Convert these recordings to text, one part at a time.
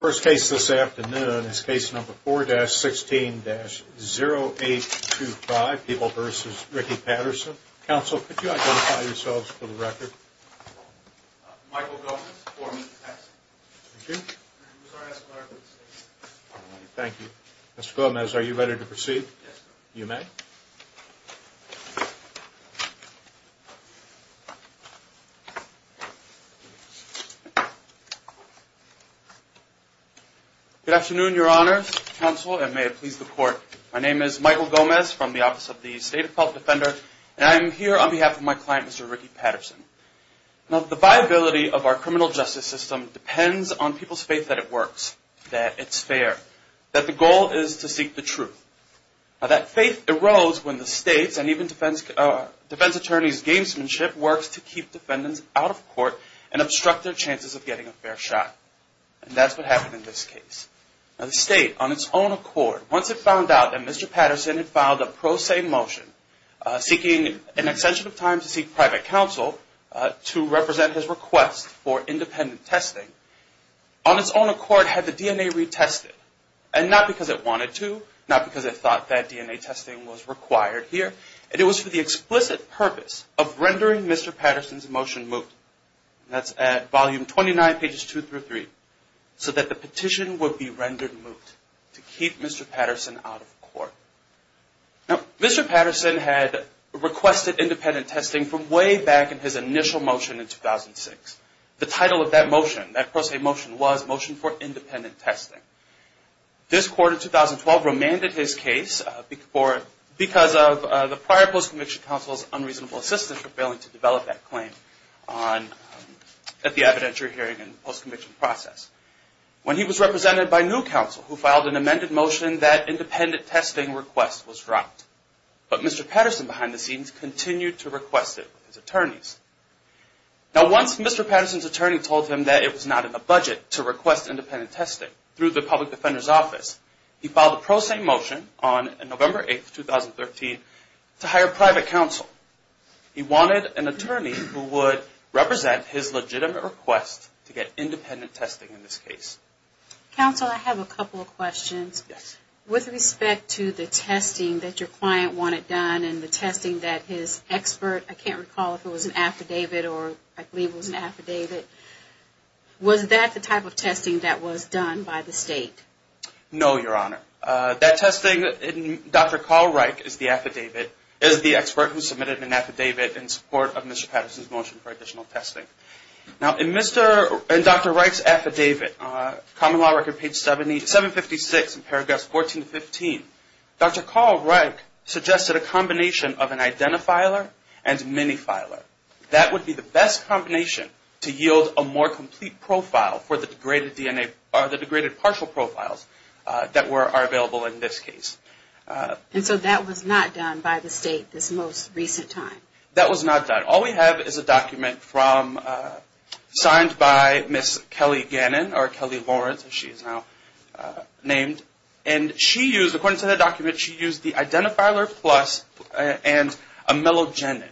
First case this afternoon is case number 4-16-0825, Peeble v. Ricky Patterson. Counsel, could you identify yourselves for the record? Michael Gomez for me, thank you. Thank you. Mr. Gomez, are you ready to proceed? Yes, sir. You may. Good afternoon, Your Honors, Counsel, and may it please the Court. My name is Michael Gomez from the Office of the State Appellate Defender, and I am here on behalf of my client, Mr. Ricky Patterson. Now, the viability of our criminal justice system depends on people's faith that it works, that it's fair, that the goal is to seek the truth. Now, that faith arose when the states and even defense attorneys' gamesmanship works to keep defendants out of court and obstruct their chances of getting a fair shot. And that's what happened in this case. Now, the state, on its own accord, once it found out that Mr. Patterson had filed a pro se motion seeking an extension of time to seek private counsel to represent his request for independent testing, on its own accord had the DNA retested, and not because it wanted to, not because it thought that DNA testing was required here, and it was for the explicit purpose of rendering Mr. Patterson's motion moot. That's at volume 29, pages 2 through 3, so that the petition would be rendered moot to keep Mr. Patterson out of court. Now, Mr. Patterson had requested independent testing from way back in his initial motion in 2006. The title of that motion, that pro se motion, was Motion for Independent Testing. This court in 2012 remanded his case because of the prior post-conviction counsel's unreasonable assistance for failing to develop that claim at the evidentiary hearing and post-conviction process. When he was represented by new counsel who filed an amended motion, that independent testing request was dropped. But Mr. Patterson, behind the scenes, continued to request it with his attorneys. Now, once Mr. Patterson's attorney told him that it was not in the budget to request independent testing through the Public Defender's Office, he filed a pro se motion on November 8, 2013, to hire private counsel. He wanted an attorney who would represent his legitimate request to get independent testing in this case. Counsel, I have a couple of questions. Yes. With respect to the testing that your client wanted done and the testing that his expert, I can't recall if it was an affidavit or I believe it was an affidavit, was that the type of testing that was done by the state? No, Your Honor. That testing, Dr. Carl Reich is the affidavit, is the expert who submitted an affidavit in support of Mr. Patterson's motion for additional testing. Now, in Dr. Reich's affidavit, Common Law Record, page 756, in paragraphs 14 to 15, Dr. Carl Reich suggested a combination of an identifiler and minifiler. That would be the best combination to yield a more complete profile for the degraded DNA or the degraded partial profiles that are available in this case. And so that was not done by the state this most recent time? That was not done. All we have is a document signed by Ms. Kelly Gannon or Kelly Lawrence, as she is now named, and she used, according to the document, she used the identifiler plus and a melogenin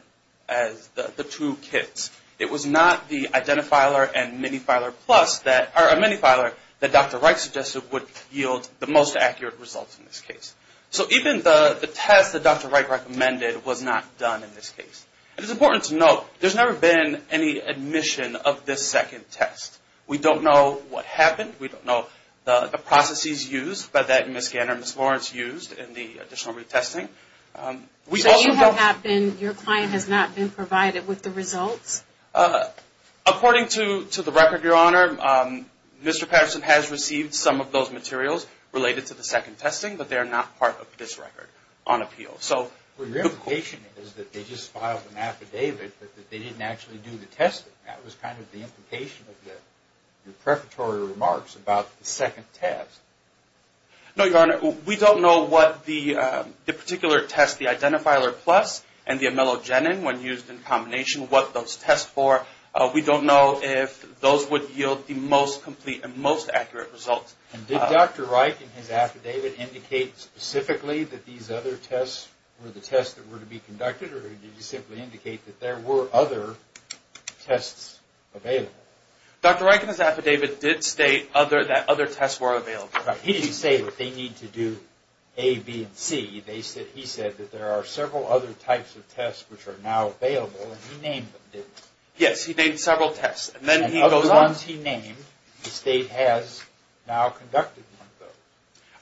as the two kits. It was not the identifiler and minifiler plus that, or a minifiler, that Dr. Reich suggested would yield the most accurate results in this case. So even the test that Dr. Reich recommended was not done in this case. It is important to note, there's never been any admission of this second test. We don't know what happened. We don't know the processes used by that Ms. Gannon or Ms. Lawrence used in the additional retesting. So your client has not been provided with the results? According to the record, Your Honor, Mr. Patterson has received some of those materials related to the second testing, but they are not part of this record on appeal. Well, your implication is that they just filed an affidavit, but that they didn't actually do the testing. That was kind of the implication of your preparatory remarks about the second test. No, Your Honor, we don't know what the particular test, the identifiler plus and the melogenin, when used in combination, what those test for. We don't know if those would yield the most complete and most accurate results. Did Dr. Reich in his affidavit indicate specifically that these other tests were the tests that were to be conducted, or did he simply indicate that there were other tests available? Dr. Reich in his affidavit did state that other tests were available. He didn't say that they need to do A, B, and C. He said that there are several other types of tests which are now available, and he named them, didn't he? Yes, he named several tests, and then he goes on. And of the ones he named, the state has now conducted one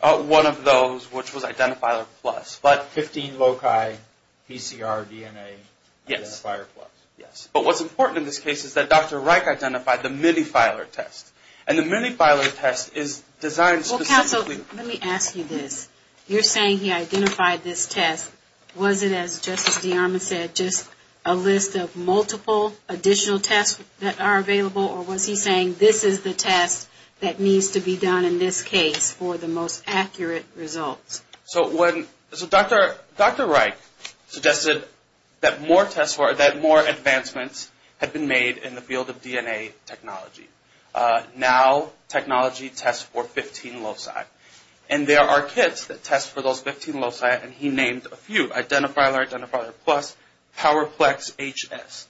of those. One of those, which was identifiler plus. But 15 loci, PCR, DNA, identifiler plus. Yes. But what's important in this case is that Dr. Reich identified the minifiler test. And the minifiler test is designed specifically. Well, counsel, let me ask you this. You're saying he identified this test. Was it, as Justice DeArmond said, just a list of multiple additional tests that are available, or was he saying this is the test that needs to be done in this case for the most accurate results? So Dr. Reich suggested that more tests were, that more advancements had been made in the field of DNA technology. Now technology tests for 15 loci. And there are kits that test for those 15 loci, and he named a few. Identifiler, identifiler plus, PowerPlex HS.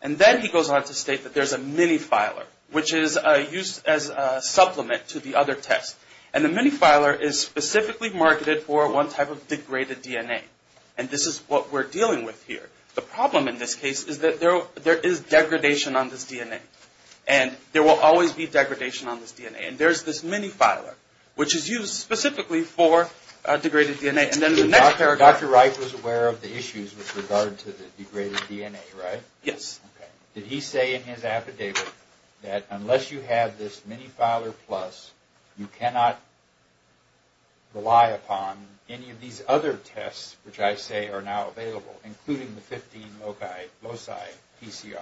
And then he goes on to state that there's a minifiler, which is used as a supplement to the other tests. And the minifiler is specifically marketed for one type of degraded DNA. And this is what we're dealing with here. The problem in this case is that there is degradation on this DNA. And there will always be degradation on this DNA. And there's this minifiler, which is used specifically for degraded DNA. Dr. Reich was aware of the issues with regard to the degraded DNA, right? Yes. Okay. Did he say in his affidavit that unless you have this minifiler plus, you cannot rely upon any of these other tests, which I say are now available, including the 15 loci PCR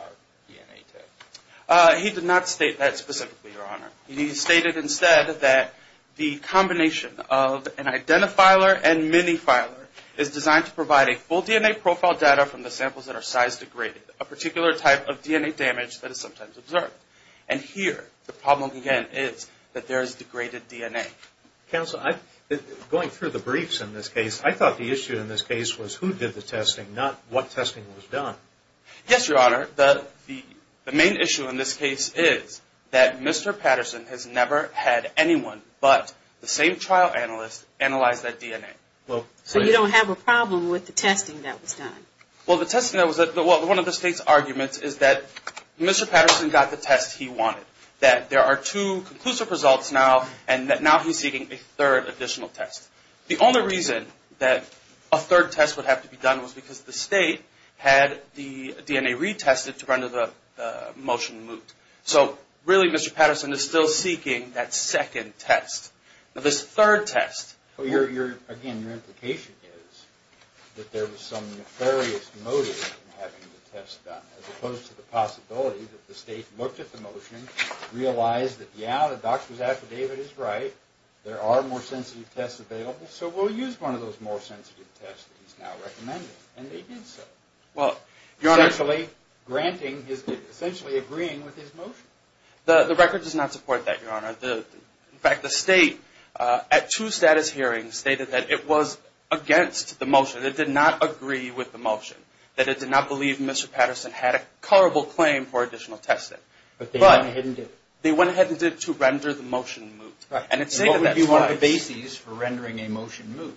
DNA test? He did not state that specifically, Your Honor. He stated instead that the combination of an identifiler and minifiler is designed to provide a full DNA profile data from the samples that are size degraded, a particular type of DNA damage that is sometimes observed. And here, the problem again is that there is degraded DNA. Counsel, going through the briefs in this case, I thought the issue in this case was who did the testing, not what testing was done. Yes, Your Honor. The main issue in this case is that Mr. Patterson has never had anyone but the same trial analyst analyze that DNA. So you don't have a problem with the testing that was done? Well, one of the State's arguments is that Mr. Patterson got the test he wanted, that there are two conclusive results now, and that now he's seeking a third additional test. The only reason that a third test would have to be done was because the State had the DNA retested to render the motion moot. So really, Mr. Patterson is still seeking that second test. Now, this third test... Again, your implication is that there was some nefarious motive in having the test done, as opposed to the possibility that the State looked at the motion, realized that, yeah, the doctor's affidavit is right, there are more sensitive tests available, so we'll use one of those more sensitive tests that he's now recommending. And they did so. Well, Your Honor... Essentially granting his, essentially agreeing with his motion. The record does not support that, Your Honor. In fact, the State, at two status hearings, stated that it was against the motion, that it did not agree with the motion, that it did not believe Mr. Patterson had a colorable claim for additional testing. But they went ahead and did it. They went ahead and did it to render the motion moot. And it stated that... What would be one of the bases for rendering a motion moot?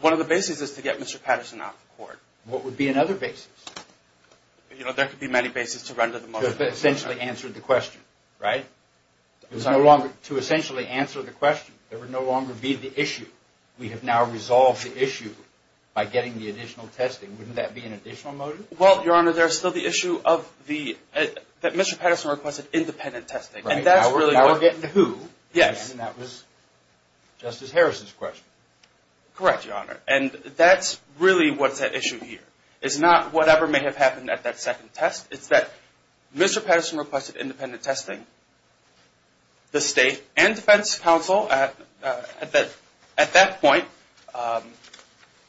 One of the bases is to get Mr. Patterson off the court. What would be another basis? You know, there could be many bases to render the motion moot. To essentially answer the question, right? To essentially answer the question, there would no longer be the issue. We have now resolved the issue by getting the additional testing. Wouldn't that be an additional motive? Well, Your Honor, there's still the issue that Mr. Patterson requested independent testing. And that's really what... Now we're getting to who. Yes. And that was Justice Harrison's question. Correct, Your Honor. And that's really what's at issue here. It's not whatever may have happened at that second test. It's that Mr. Patterson requested independent testing. The state and defense counsel at that point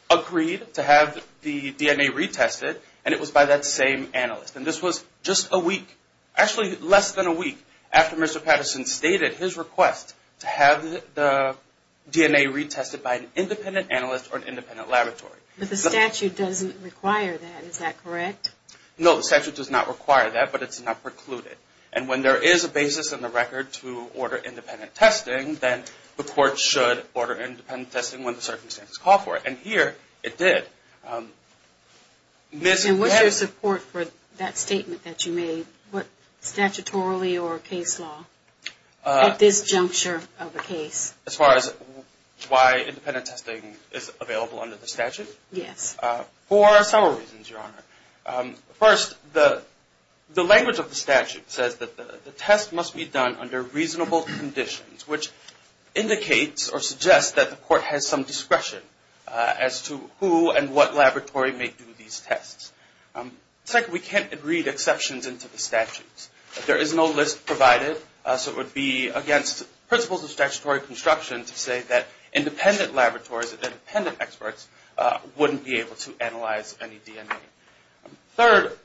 agreed to have the DNA retested, and it was by that same analyst. And this was just a week, actually less than a week, after Mr. Patterson stated his request to have the DNA retested by an independent analyst or an independent laboratory. But the statute doesn't require that. Is that correct? No, the statute does not require that, but it's not precluded. And when there is a basis in the record to order independent testing, then the court should order independent testing when the circumstances call for it. And here it did. And what's your support for that statement that you made? Statutorily or case law? At this juncture of a case. As far as why independent testing is available under the statute? Yes. For several reasons, Your Honor. First, the language of the statute says that the test must be done under reasonable conditions, which indicates or suggests that the court has some discretion as to who and what laboratory may do these tests. Second, we can't read exceptions into the statutes. There is no list provided, so it would be against principles of statutory construction to say that independent laboratories and independent experts wouldn't be able to analyze any DNA. Third,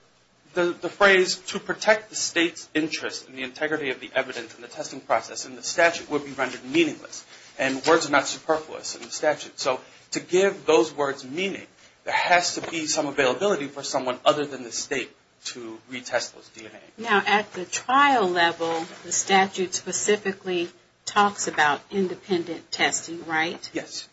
the phrase to protect the state's interest in the integrity of the evidence and the testing process in the statute would be rendered meaningless. And words are not superfluous in the statute. So to give those words meaning, there has to be some availability for someone other than the state to retest those DNA. Now, at the trial level, the statute specifically talks about independent testing, right? Yes.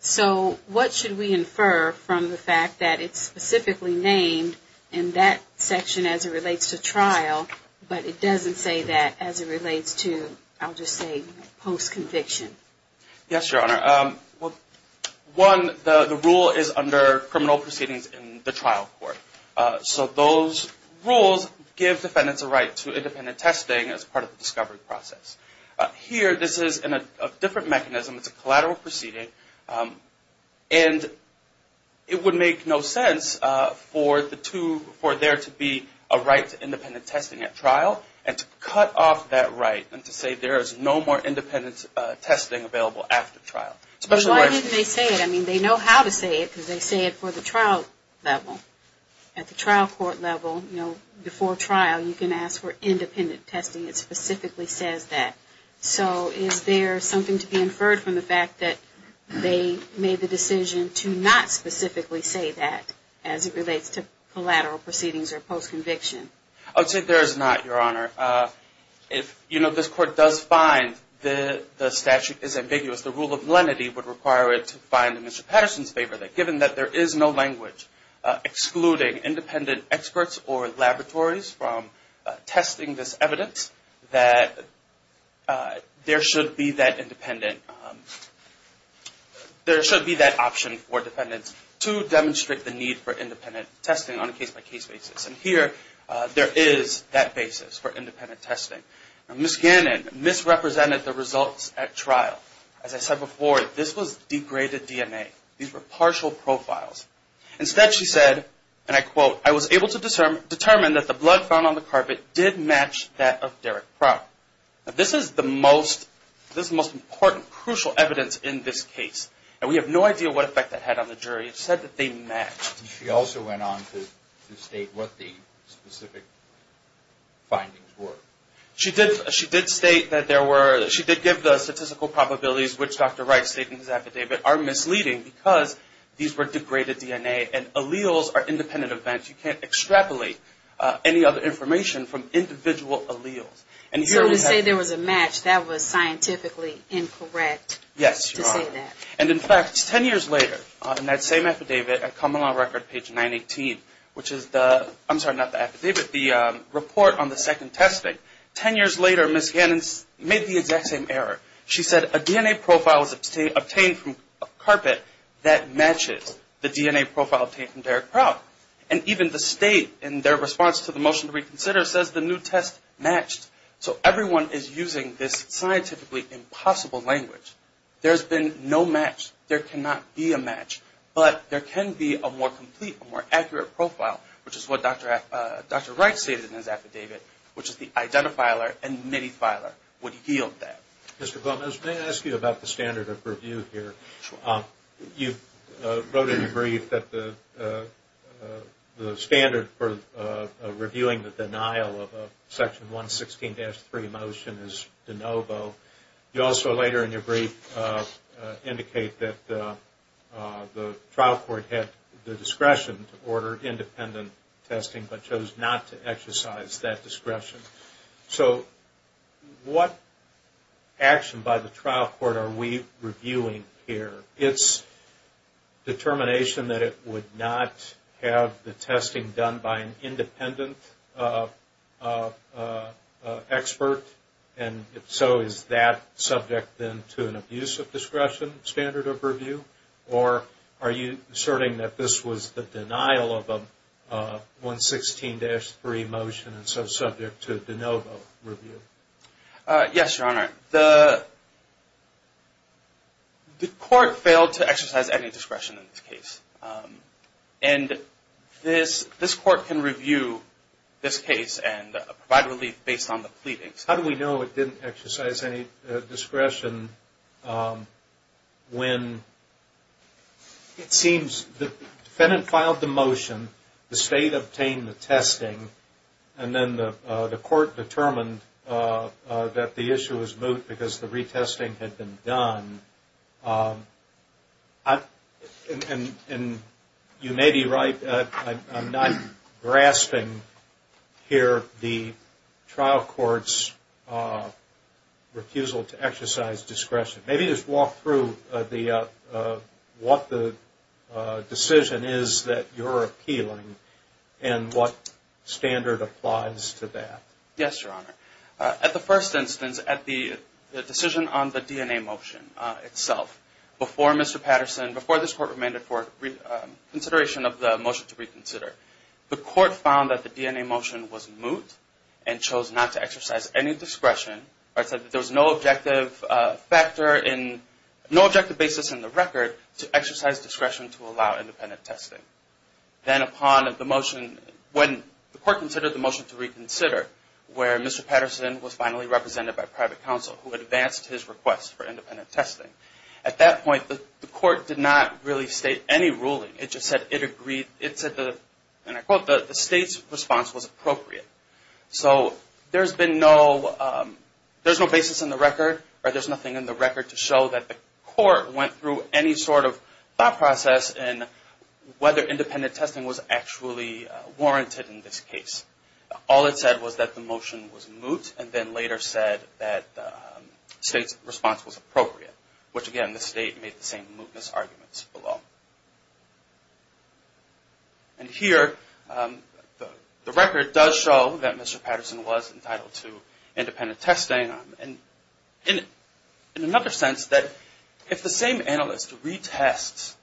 So what should we infer from the fact that it's specifically named in that section as it relates to trial, but it doesn't say that as it relates to, I'll just say, post-conviction? Yes, Your Honor. One, the rule is under criminal proceedings in the trial court. So those rules give defendants a right to independent testing as part of the discovery process. Here, this is a different mechanism. It's a collateral proceeding, and it would make no sense for there to be a right to independent testing at trial and to cut off that right and to say there is no more independent testing available after trial. But why didn't they say it? I mean, they know how to say it because they say it for the trial level. At the trial court level, you know, before trial, you can ask for independent testing. It specifically says that. So is there something to be inferred from the fact that they made the decision to not specifically say that as it relates to collateral proceedings or post-conviction? I would say there is not, Your Honor. If, you know, this court does find that the statute is ambiguous, the rule of lenity would require it to find in Mr. Patterson's favor that given that there is no language excluding independent experts or laboratories from testing this evidence, that there should be that independent, there should be that option for defendants to demonstrate the need for independent testing on a case-by-case basis. And here, there is that basis for independent testing. Ms. Gannon misrepresented the results at trial. As I said before, this was degraded DNA. These were partial profiles. Instead, she said, and I quote, I was able to determine that the blood found on the carpet did match that of Derek Prout. This is the most important, crucial evidence in this case. And we have no idea what effect that had on the jury. It said that they matched. She also went on to state what the specific findings were. She did state that there were, she did give the statistical probabilities, which Dr. Wright stated in his affidavit, are misleading because these were degraded DNA and alleles are independent events. You can't extrapolate any other information from individual alleles. So to say there was a match, that was scientifically incorrect to say that. Yes, Your Honor. And, in fact, 10 years later, in that same affidavit at Common Law Record, page 918, which is the, I'm sorry, not the affidavit, the report on the second testing, 10 years later, Ms. Gannon made the exact same error. She said a DNA profile was obtained from a carpet that matches the DNA profile obtained from Derek Prout. And even the state, in their response to the motion to reconsider, says the new test matched. So everyone is using this scientifically impossible language. There's been no match. There cannot be a match. But there can be a more complete, a more accurate profile, which is what Dr. Wright stated in his affidavit, which is the identifiler and midifiler would yield that. Mr. Gomez, may I ask you about the standard of review here? Sure. You wrote in your brief that the standard for reviewing the denial of a Section 116-3 motion is de novo. You also later in your brief indicate that the trial court had the discretion to order independent testing but chose not to exercise that discretion. So what action by the trial court are we reviewing here? It's determination that it would not have the testing done by an independent expert, and if so, is that subject then to an abuse of discretion standard of review? Or are you asserting that this was the denial of a 116-3 motion and so subject to de novo review? Yes, Your Honor. The court failed to exercise any discretion in this case. And this court can review this case and provide relief based on the pleadings. How do we know it didn't exercise any discretion when it seems the defendant filed the motion, the State obtained the testing, and then the court determined that the issue was moot because the retesting had been done? And you may be right, I'm not grasping here the trial court's refusal to exercise discretion. Maybe just walk through what the decision is that you're appealing and what standard applies to that. Yes, Your Honor. At the first instance, at the decision on the DNA motion itself, before Mr. Patterson, before this court demanded consideration of the motion to reconsider, the court found that the DNA motion was moot and chose not to exercise any discretion. It said that there was no objective basis in the record to exercise discretion to allow independent testing. Then upon the motion, when the court considered the motion to reconsider, where Mr. Patterson was finally represented by private counsel who had advanced his request for independent testing, at that point the court did not really state any ruling. It just said it agreed, and I quote, the State's response was appropriate. So there's been no, there's no basis in the record or there's nothing in the record to show that the court went through any sort of thought process in whether independent testing was actually warranted in this case. All it said was that the motion was moot and then later said that the State's response was appropriate, which again, the State made the same mootness arguments below. And here, the record does show that Mr. Patterson was entitled to independent testing. In another sense, that if the same analyst retests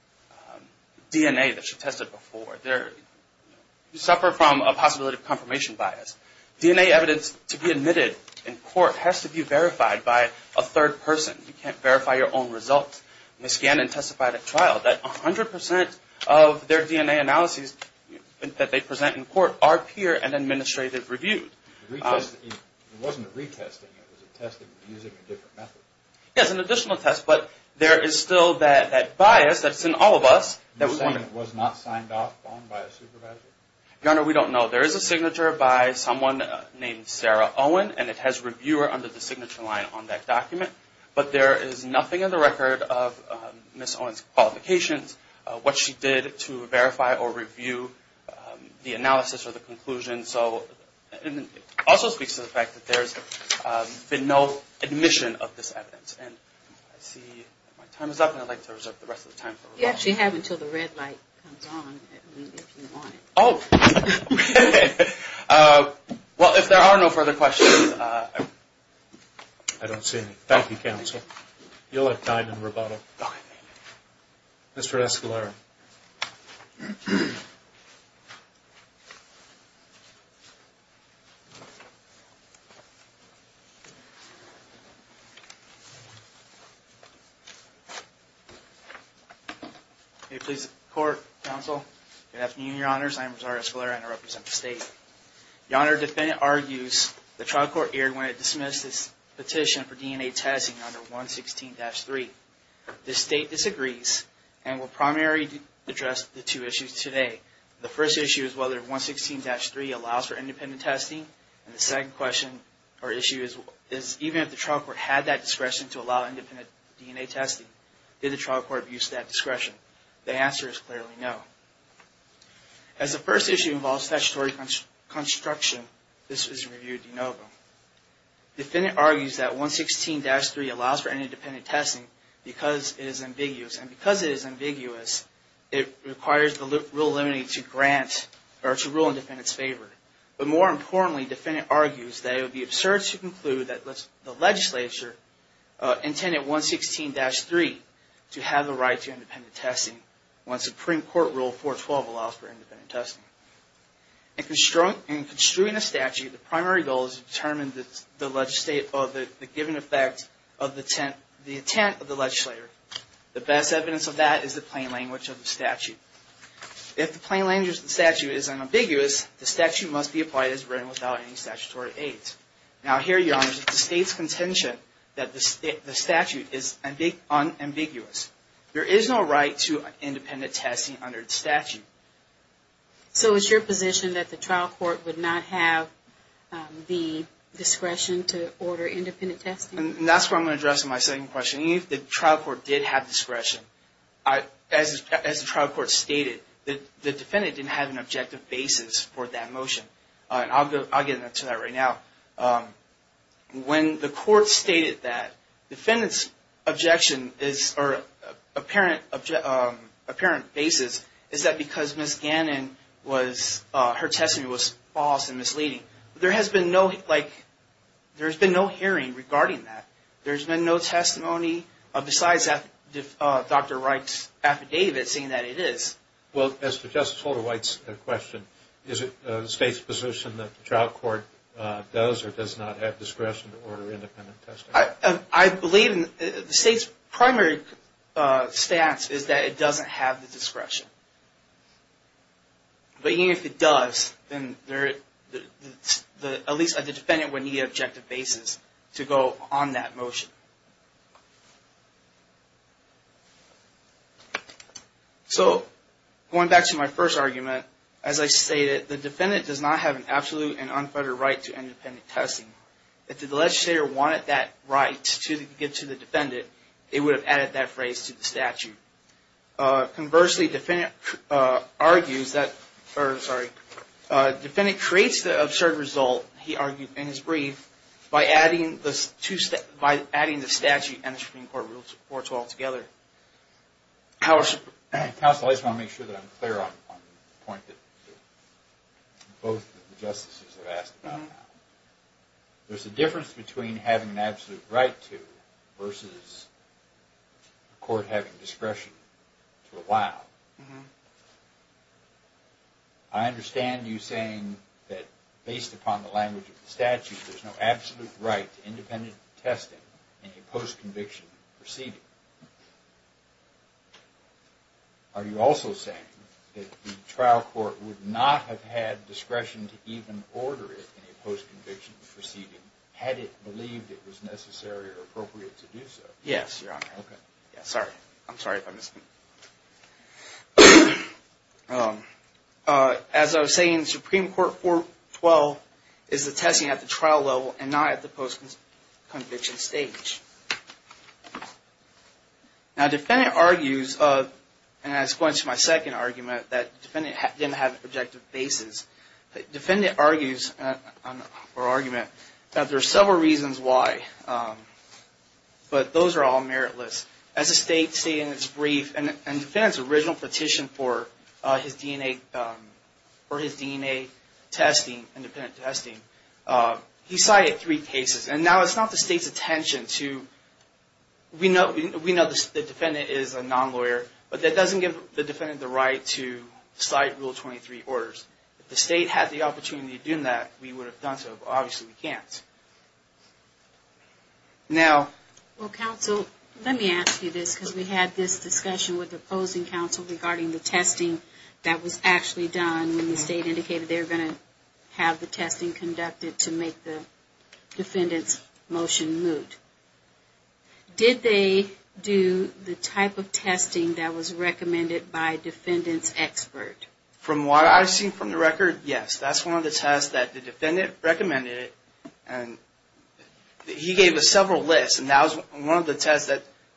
DNA that she tested before, you suffer from a possibility of confirmation bias. DNA evidence to be admitted in court has to be verified by a third person. You can't verify your own results. They scan and testify at trial that 100% of their DNA analyses that they present in court are peer and administrative reviewed. It wasn't a retesting, it was a testing using a different method. Yes, an additional test, but there is still that bias that's in all of us. You're saying it was not signed off on by a supervisor? Your Honor, we don't know. There is a signature by someone named Sarah Owen, and it has reviewer under the signature line on that document. But there is nothing in the record of Ms. Owen's qualifications, what she did to verify or review the analysis or the conclusion. And so it also speaks to the fact that there's been no admission of this evidence. And I see my time is up, and I'd like to reserve the rest of the time for rebuttal. You actually have until the red light comes on, if you want. Oh. Well, if there are no further questions, I don't see any. Thank you, counsel. You'll have time in rebuttal. Mr. Escalera. May it please the court, counsel. Good afternoon, Your Honors. I am Rosario Escalera, and I represent the state. Your Honor, the defendant argues the trial court erred when it dismissed its petition for DNA testing under 116-3. The state disagrees and will primarily address the two issues today. The first issue is whether 116-3 allows for independent testing. And the second question or issue is even if the trial court had that discretion to allow independent DNA testing, did the trial court abuse that discretion? The answer is clearly no. As the first issue involves statutory construction, this was reviewed de novo. The defendant argues that 116-3 allows for independent testing because it is ambiguous. And because it is ambiguous, it requires the rule limiting it to grant or to rule in the defendant's favor. But more importantly, the defendant argues that it would be absurd to conclude that the legislature intended 116-3 to have the right to independent testing when Supreme Court Rule 412 allows for independent testing. In construing a statute, the primary goal is to determine the given effect of the intent of the legislator. The best evidence of that is the plain language of the statute. If the plain language of the statute is unambiguous, the statute must be applied as written without any statutory aids. Now here, Your Honors, the state's contention that the statute is unambiguous. There is no right to independent testing under the statute. So it's your position that the trial court would not have the discretion to order independent testing? And that's where I'm going to address my second question. Even if the trial court did have discretion, as the trial court stated, the defendant didn't have an objective basis for that motion. And I'll get into that right now. When the court stated that the defendant's objection is, or apparent basis, is that because Ms. Gannon was, her testimony was false and misleading. There has been no, like, there's been no hearing regarding that. There's been no testimony besides Dr. Wright's affidavit saying that it is. Well, as to Justice Holder-White's question, is it the state's position that the trial court does or does not have discretion to order independent testing? I believe the state's primary stance is that it doesn't have the discretion. But even if it does, then at least the defendant would need an objective basis to go on that motion. So, going back to my first argument, as I stated, the defendant does not have an absolute and unfettered right to independent testing. If the legislator wanted that right to give to the defendant, it would have added that phrase to the statute. Conversely, the defendant argues that, or sorry, the defendant creates the absurd result, he argued in his brief, by adding the statute and the Supreme Court rules altogether. Counsel, I just want to make sure that I'm clear on the point that both of the justices have asked about. There's a difference between having an absolute right to versus a court having discretion to allow. I understand you saying that based upon the language of the statute, there's no absolute right to independent testing in a post-conviction proceeding. Are you also saying that the trial court would not have had discretion to even order it in a post-conviction proceeding, had it believed it was necessary or appropriate to do so? Yes, Your Honor. Okay. Yeah, sorry. I'm sorry if I missed anything. As I was saying, Supreme Court 412 is the testing at the trial level and not at the post-conviction stage. Now, the defendant argues, and that's going to my second argument, that the defendant didn't have objective bases. The defendant argues, or argument, that there are several reasons why, but those are all meritless. As the state stated in its brief, and the defendant's original petition for his DNA testing, independent testing, he cited three cases. Now, it's not the state's attention to, we know the defendant is a non-lawyer, but that doesn't give the defendant the right to cite Rule 23 orders. If the state had the opportunity to do that, we would have done so, but obviously we can't. Well, counsel, let me ask you this, because we had this discussion with the opposing counsel regarding the testing that was actually done, and when the state indicated they were going to have the testing conducted to make the defendant's motion moot, did they do the type of testing that was recommended by a defendant's expert? From what I've seen from the record, yes. That's one of the tests that the defendant recommended, and he gave us several lists, and that was one of the tests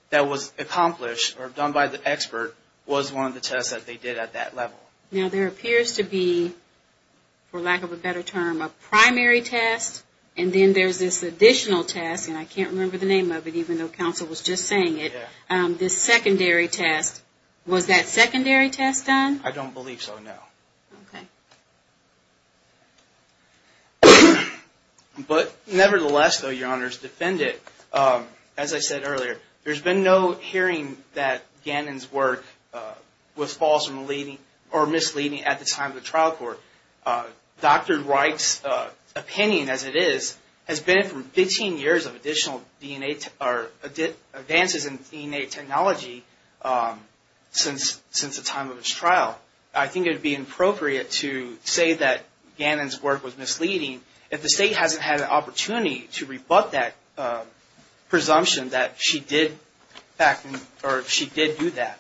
that was accomplished, or done by the expert, was one of the tests that they did at that level. Now, there appears to be, for lack of a better term, a primary test, and then there's this additional test, and I can't remember the name of it, even though counsel was just saying it, this secondary test. Was that secondary test done? I don't believe so, no. Okay. But nevertheless, though, Your Honors, defendant, as I said earlier, there's been no hearing that Gannon's work was false or misleading at the time of the trial court. Dr. Wright's opinion, as it is, has been from 15 years of additional advances in DNA technology since the time of his trial. I think it would be inappropriate to say that Gannon's work was misleading if the State hasn't had an opportunity to rebut that presumption that she did do that.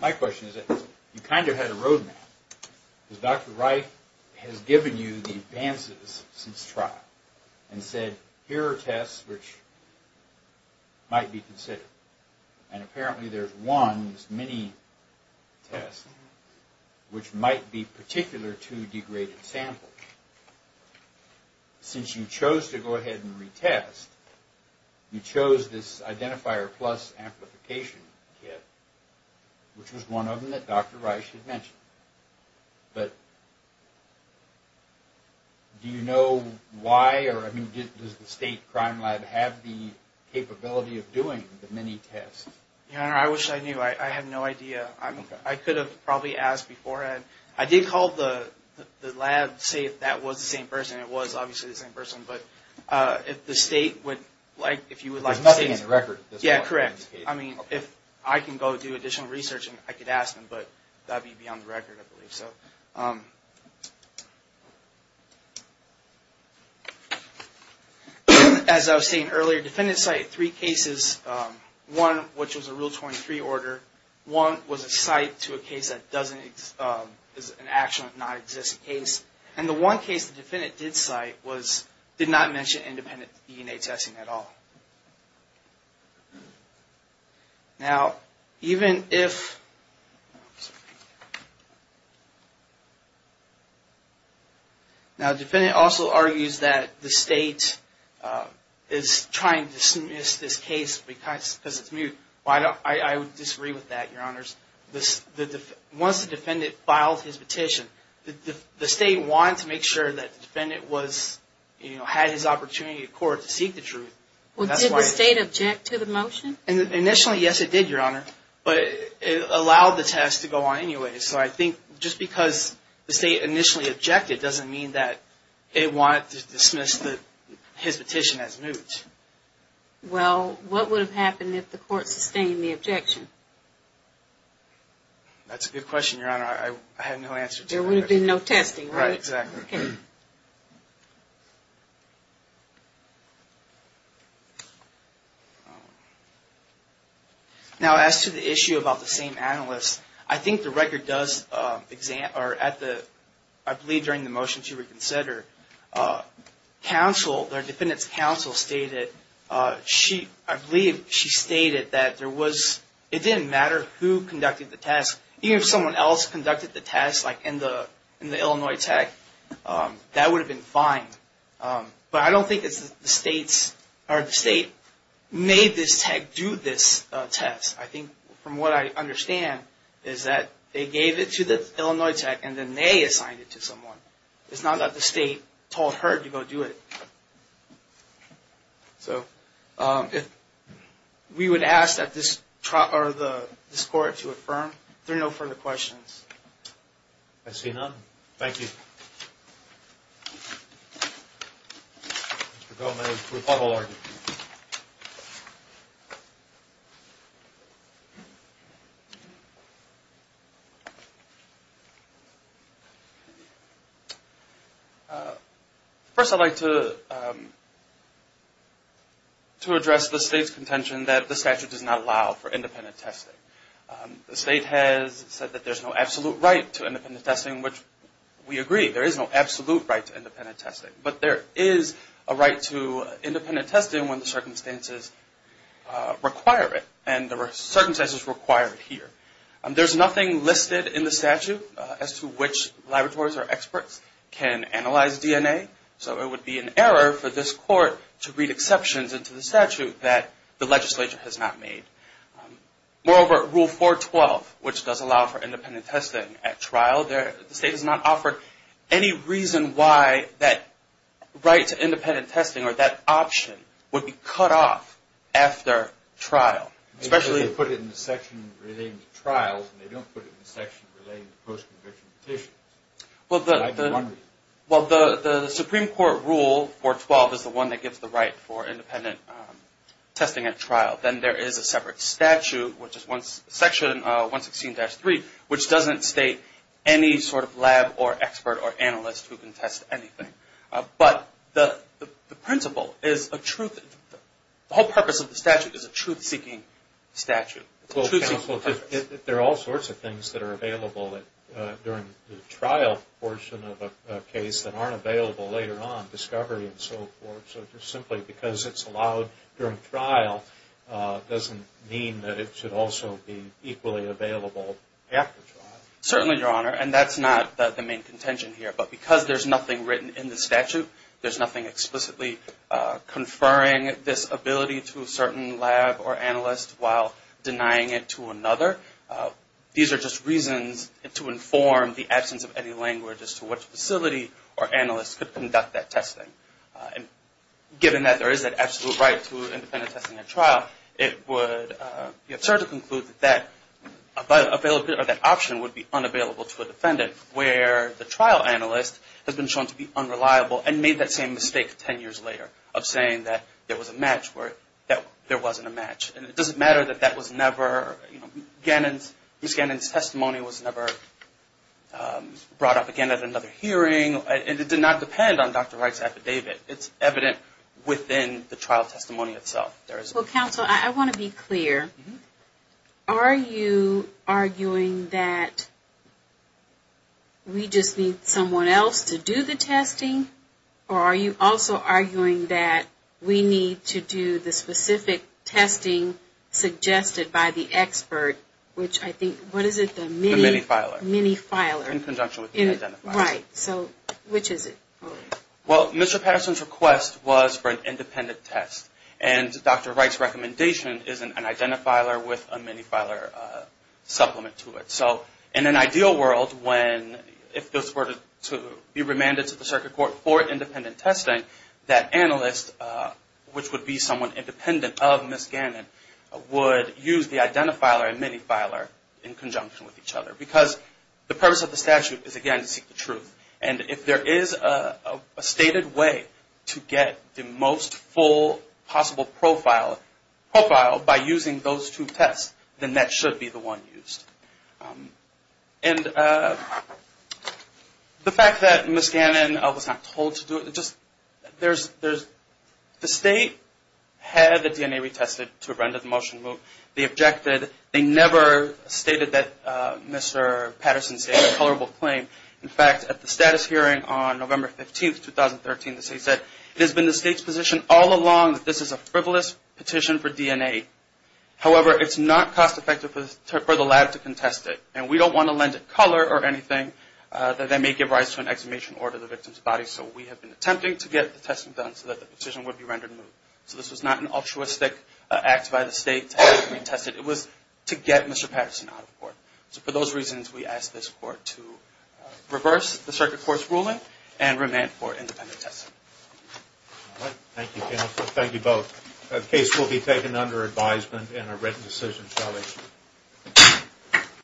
My question is that you kind of had a roadmap, because Dr. Wright has given you the advances since trial and said, here are tests which might be considered, and apparently there's one, this mini test, which might be particular to degraded samples. Since you chose to go ahead and retest, you chose this identifier plus amplification kit, which was one of them that Dr. Wright had mentioned. But do you know why? Or does the State Crime Lab have the capability of doing the mini test? Your Honor, I wish I knew. I have no idea. I could have probably asked beforehand. I did call the lab to see if that was the same person. It was obviously the same person. But if the State would like – There's nothing in the record. Yeah, correct. I mean, if I can go do additional research, I could ask them. But that would be beyond the record, I believe. As I was saying earlier, defendants cited three cases. One, which was a Rule 23 order. One was a cite to a case that is an actual, non-existent case. And the one case the defendant did cite did not mention independent DNA testing at all. Now, the defendant also argues that the State is trying to dismiss this case because it's mute. I disagree with that, Your Honors. Once the defendant filed his petition, the State wanted to make sure that the defendant had his opportunity in court to seek the truth. Well, did the State object to the motion? Initially, yes, it did, Your Honor. But it allowed the test to go on anyway. So I think just because the State initially objected doesn't mean that it wanted to dismiss his petition as mute. Well, what would have happened if the court sustained the objection? That's a good question, Your Honor. I have no answer to that. There would have been no testing, right? Right, exactly. Now, as to the issue about the same analyst, I think the record does, I believe during the motion to reconsider, counsel, the defendant's counsel stated, I believe she stated that it didn't matter who conducted the test. Even if someone else conducted the test, like in the Illinois Tech, that would have been fine. But I don't think it's the State made this Tech do this test. I think from what I understand is that they gave it to the Illinois Tech and then they assigned it to someone. It's not that the State told her to go do it. So we would ask that this court to affirm. If there are no further questions. I see none. Thank you. Mr. Gomez, rebuttal argument. First, I'd like to address the State's contention that the statute does not allow for independent testing. The State has said that there's no absolute right to independent testing, which we agree. There is no absolute right to independent testing. But there is a right to independent testing when the circumstances require it. And there are circumstances required here. There's nothing listed in the statute as to which laboratories or experts can analyze DNA. So it would be an error for this court to read exceptions into the statute that the legislature has not made. Moreover, Rule 412, which does allow for independent testing at trial, the State has not offered any reason why that right to independent testing or that option would be cut off after trial. They put it in the section relating to trials, and they don't put it in the section relating to post-conviction petitions. Well, the Supreme Court Rule 412 is the one that gives the right for independent testing at trial. Then there is a separate statute, which is Section 116-3, which doesn't state any sort of lab or expert or analyst who can test anything. But the principle is a truth. The whole purpose of the statute is a truth-seeking statute. Well, counsel, there are all sorts of things that are available during the trial portion of a case that aren't available later on, discovery and so forth. So just simply because it's allowed during trial doesn't mean that it should also be equally available after trial. Certainly, Your Honor. And that's not the main contention here. But because there's nothing written in the statute, there's nothing explicitly conferring this ability to a certain lab or analyst while denying it to another. These are just reasons to inform the absence of any language as to which facility or analyst could conduct that testing. And given that there is that absolute right to independent testing at trial, it would be absurd to conclude that that option would be unavailable to a defendant, where the trial analyst has been shown to be unreliable and made that same mistake ten years later of saying that there was a match where there wasn't a match. And it doesn't matter that that was never – Ms. Gannon's testimony was never brought up again at another hearing. It did not depend on Dr. Wright's affidavit. It's evident within the trial testimony itself. Well, counsel, I want to be clear. Are you arguing that we just need someone else to do the testing? Or are you also arguing that we need to do the specific testing suggested by the expert, which I think – what is it? The mini-filer. The mini-filer. In conjunction with the identifier. Right. So which is it? Well, Mr. Patterson's request was for an independent test. And Dr. Wright's recommendation is an identifier with a mini-filer supplement to it. So in an ideal world, when – if this were to be remanded to the circuit court for independent testing, that analyst, which would be someone independent of Ms. Gannon, would use the identifier and mini-filer in conjunction with each other. Because the purpose of the statute is, again, to seek the truth. And if there is a stated way to get the most full possible profile by using those two tests, then that should be the one used. And the fact that Ms. Gannon was not told to do it, just – there's – the state had the DNA retested to render the motion remote. They objected. They never stated that Mr. Patterson stated a colorable claim. In fact, at the status hearing on November 15, 2013, the state said, it has been the state's position all along that this is a frivolous petition for DNA. However, it's not cost-effective for the latter to contest it. And we don't want to lend it color or anything that may give rise to an exhumation order of the victim's body. So we have been attempting to get the testing done so that the petition would be rendered remote. So this was not an altruistic act by the state to have it retested. It was to get Mr. Patterson out of court. So for those reasons, we ask this court to reverse the circuit court's ruling and remand for independent testing. Thank you, counsel. Thank you both. The case will be taken under advisement and a written decision shall issue.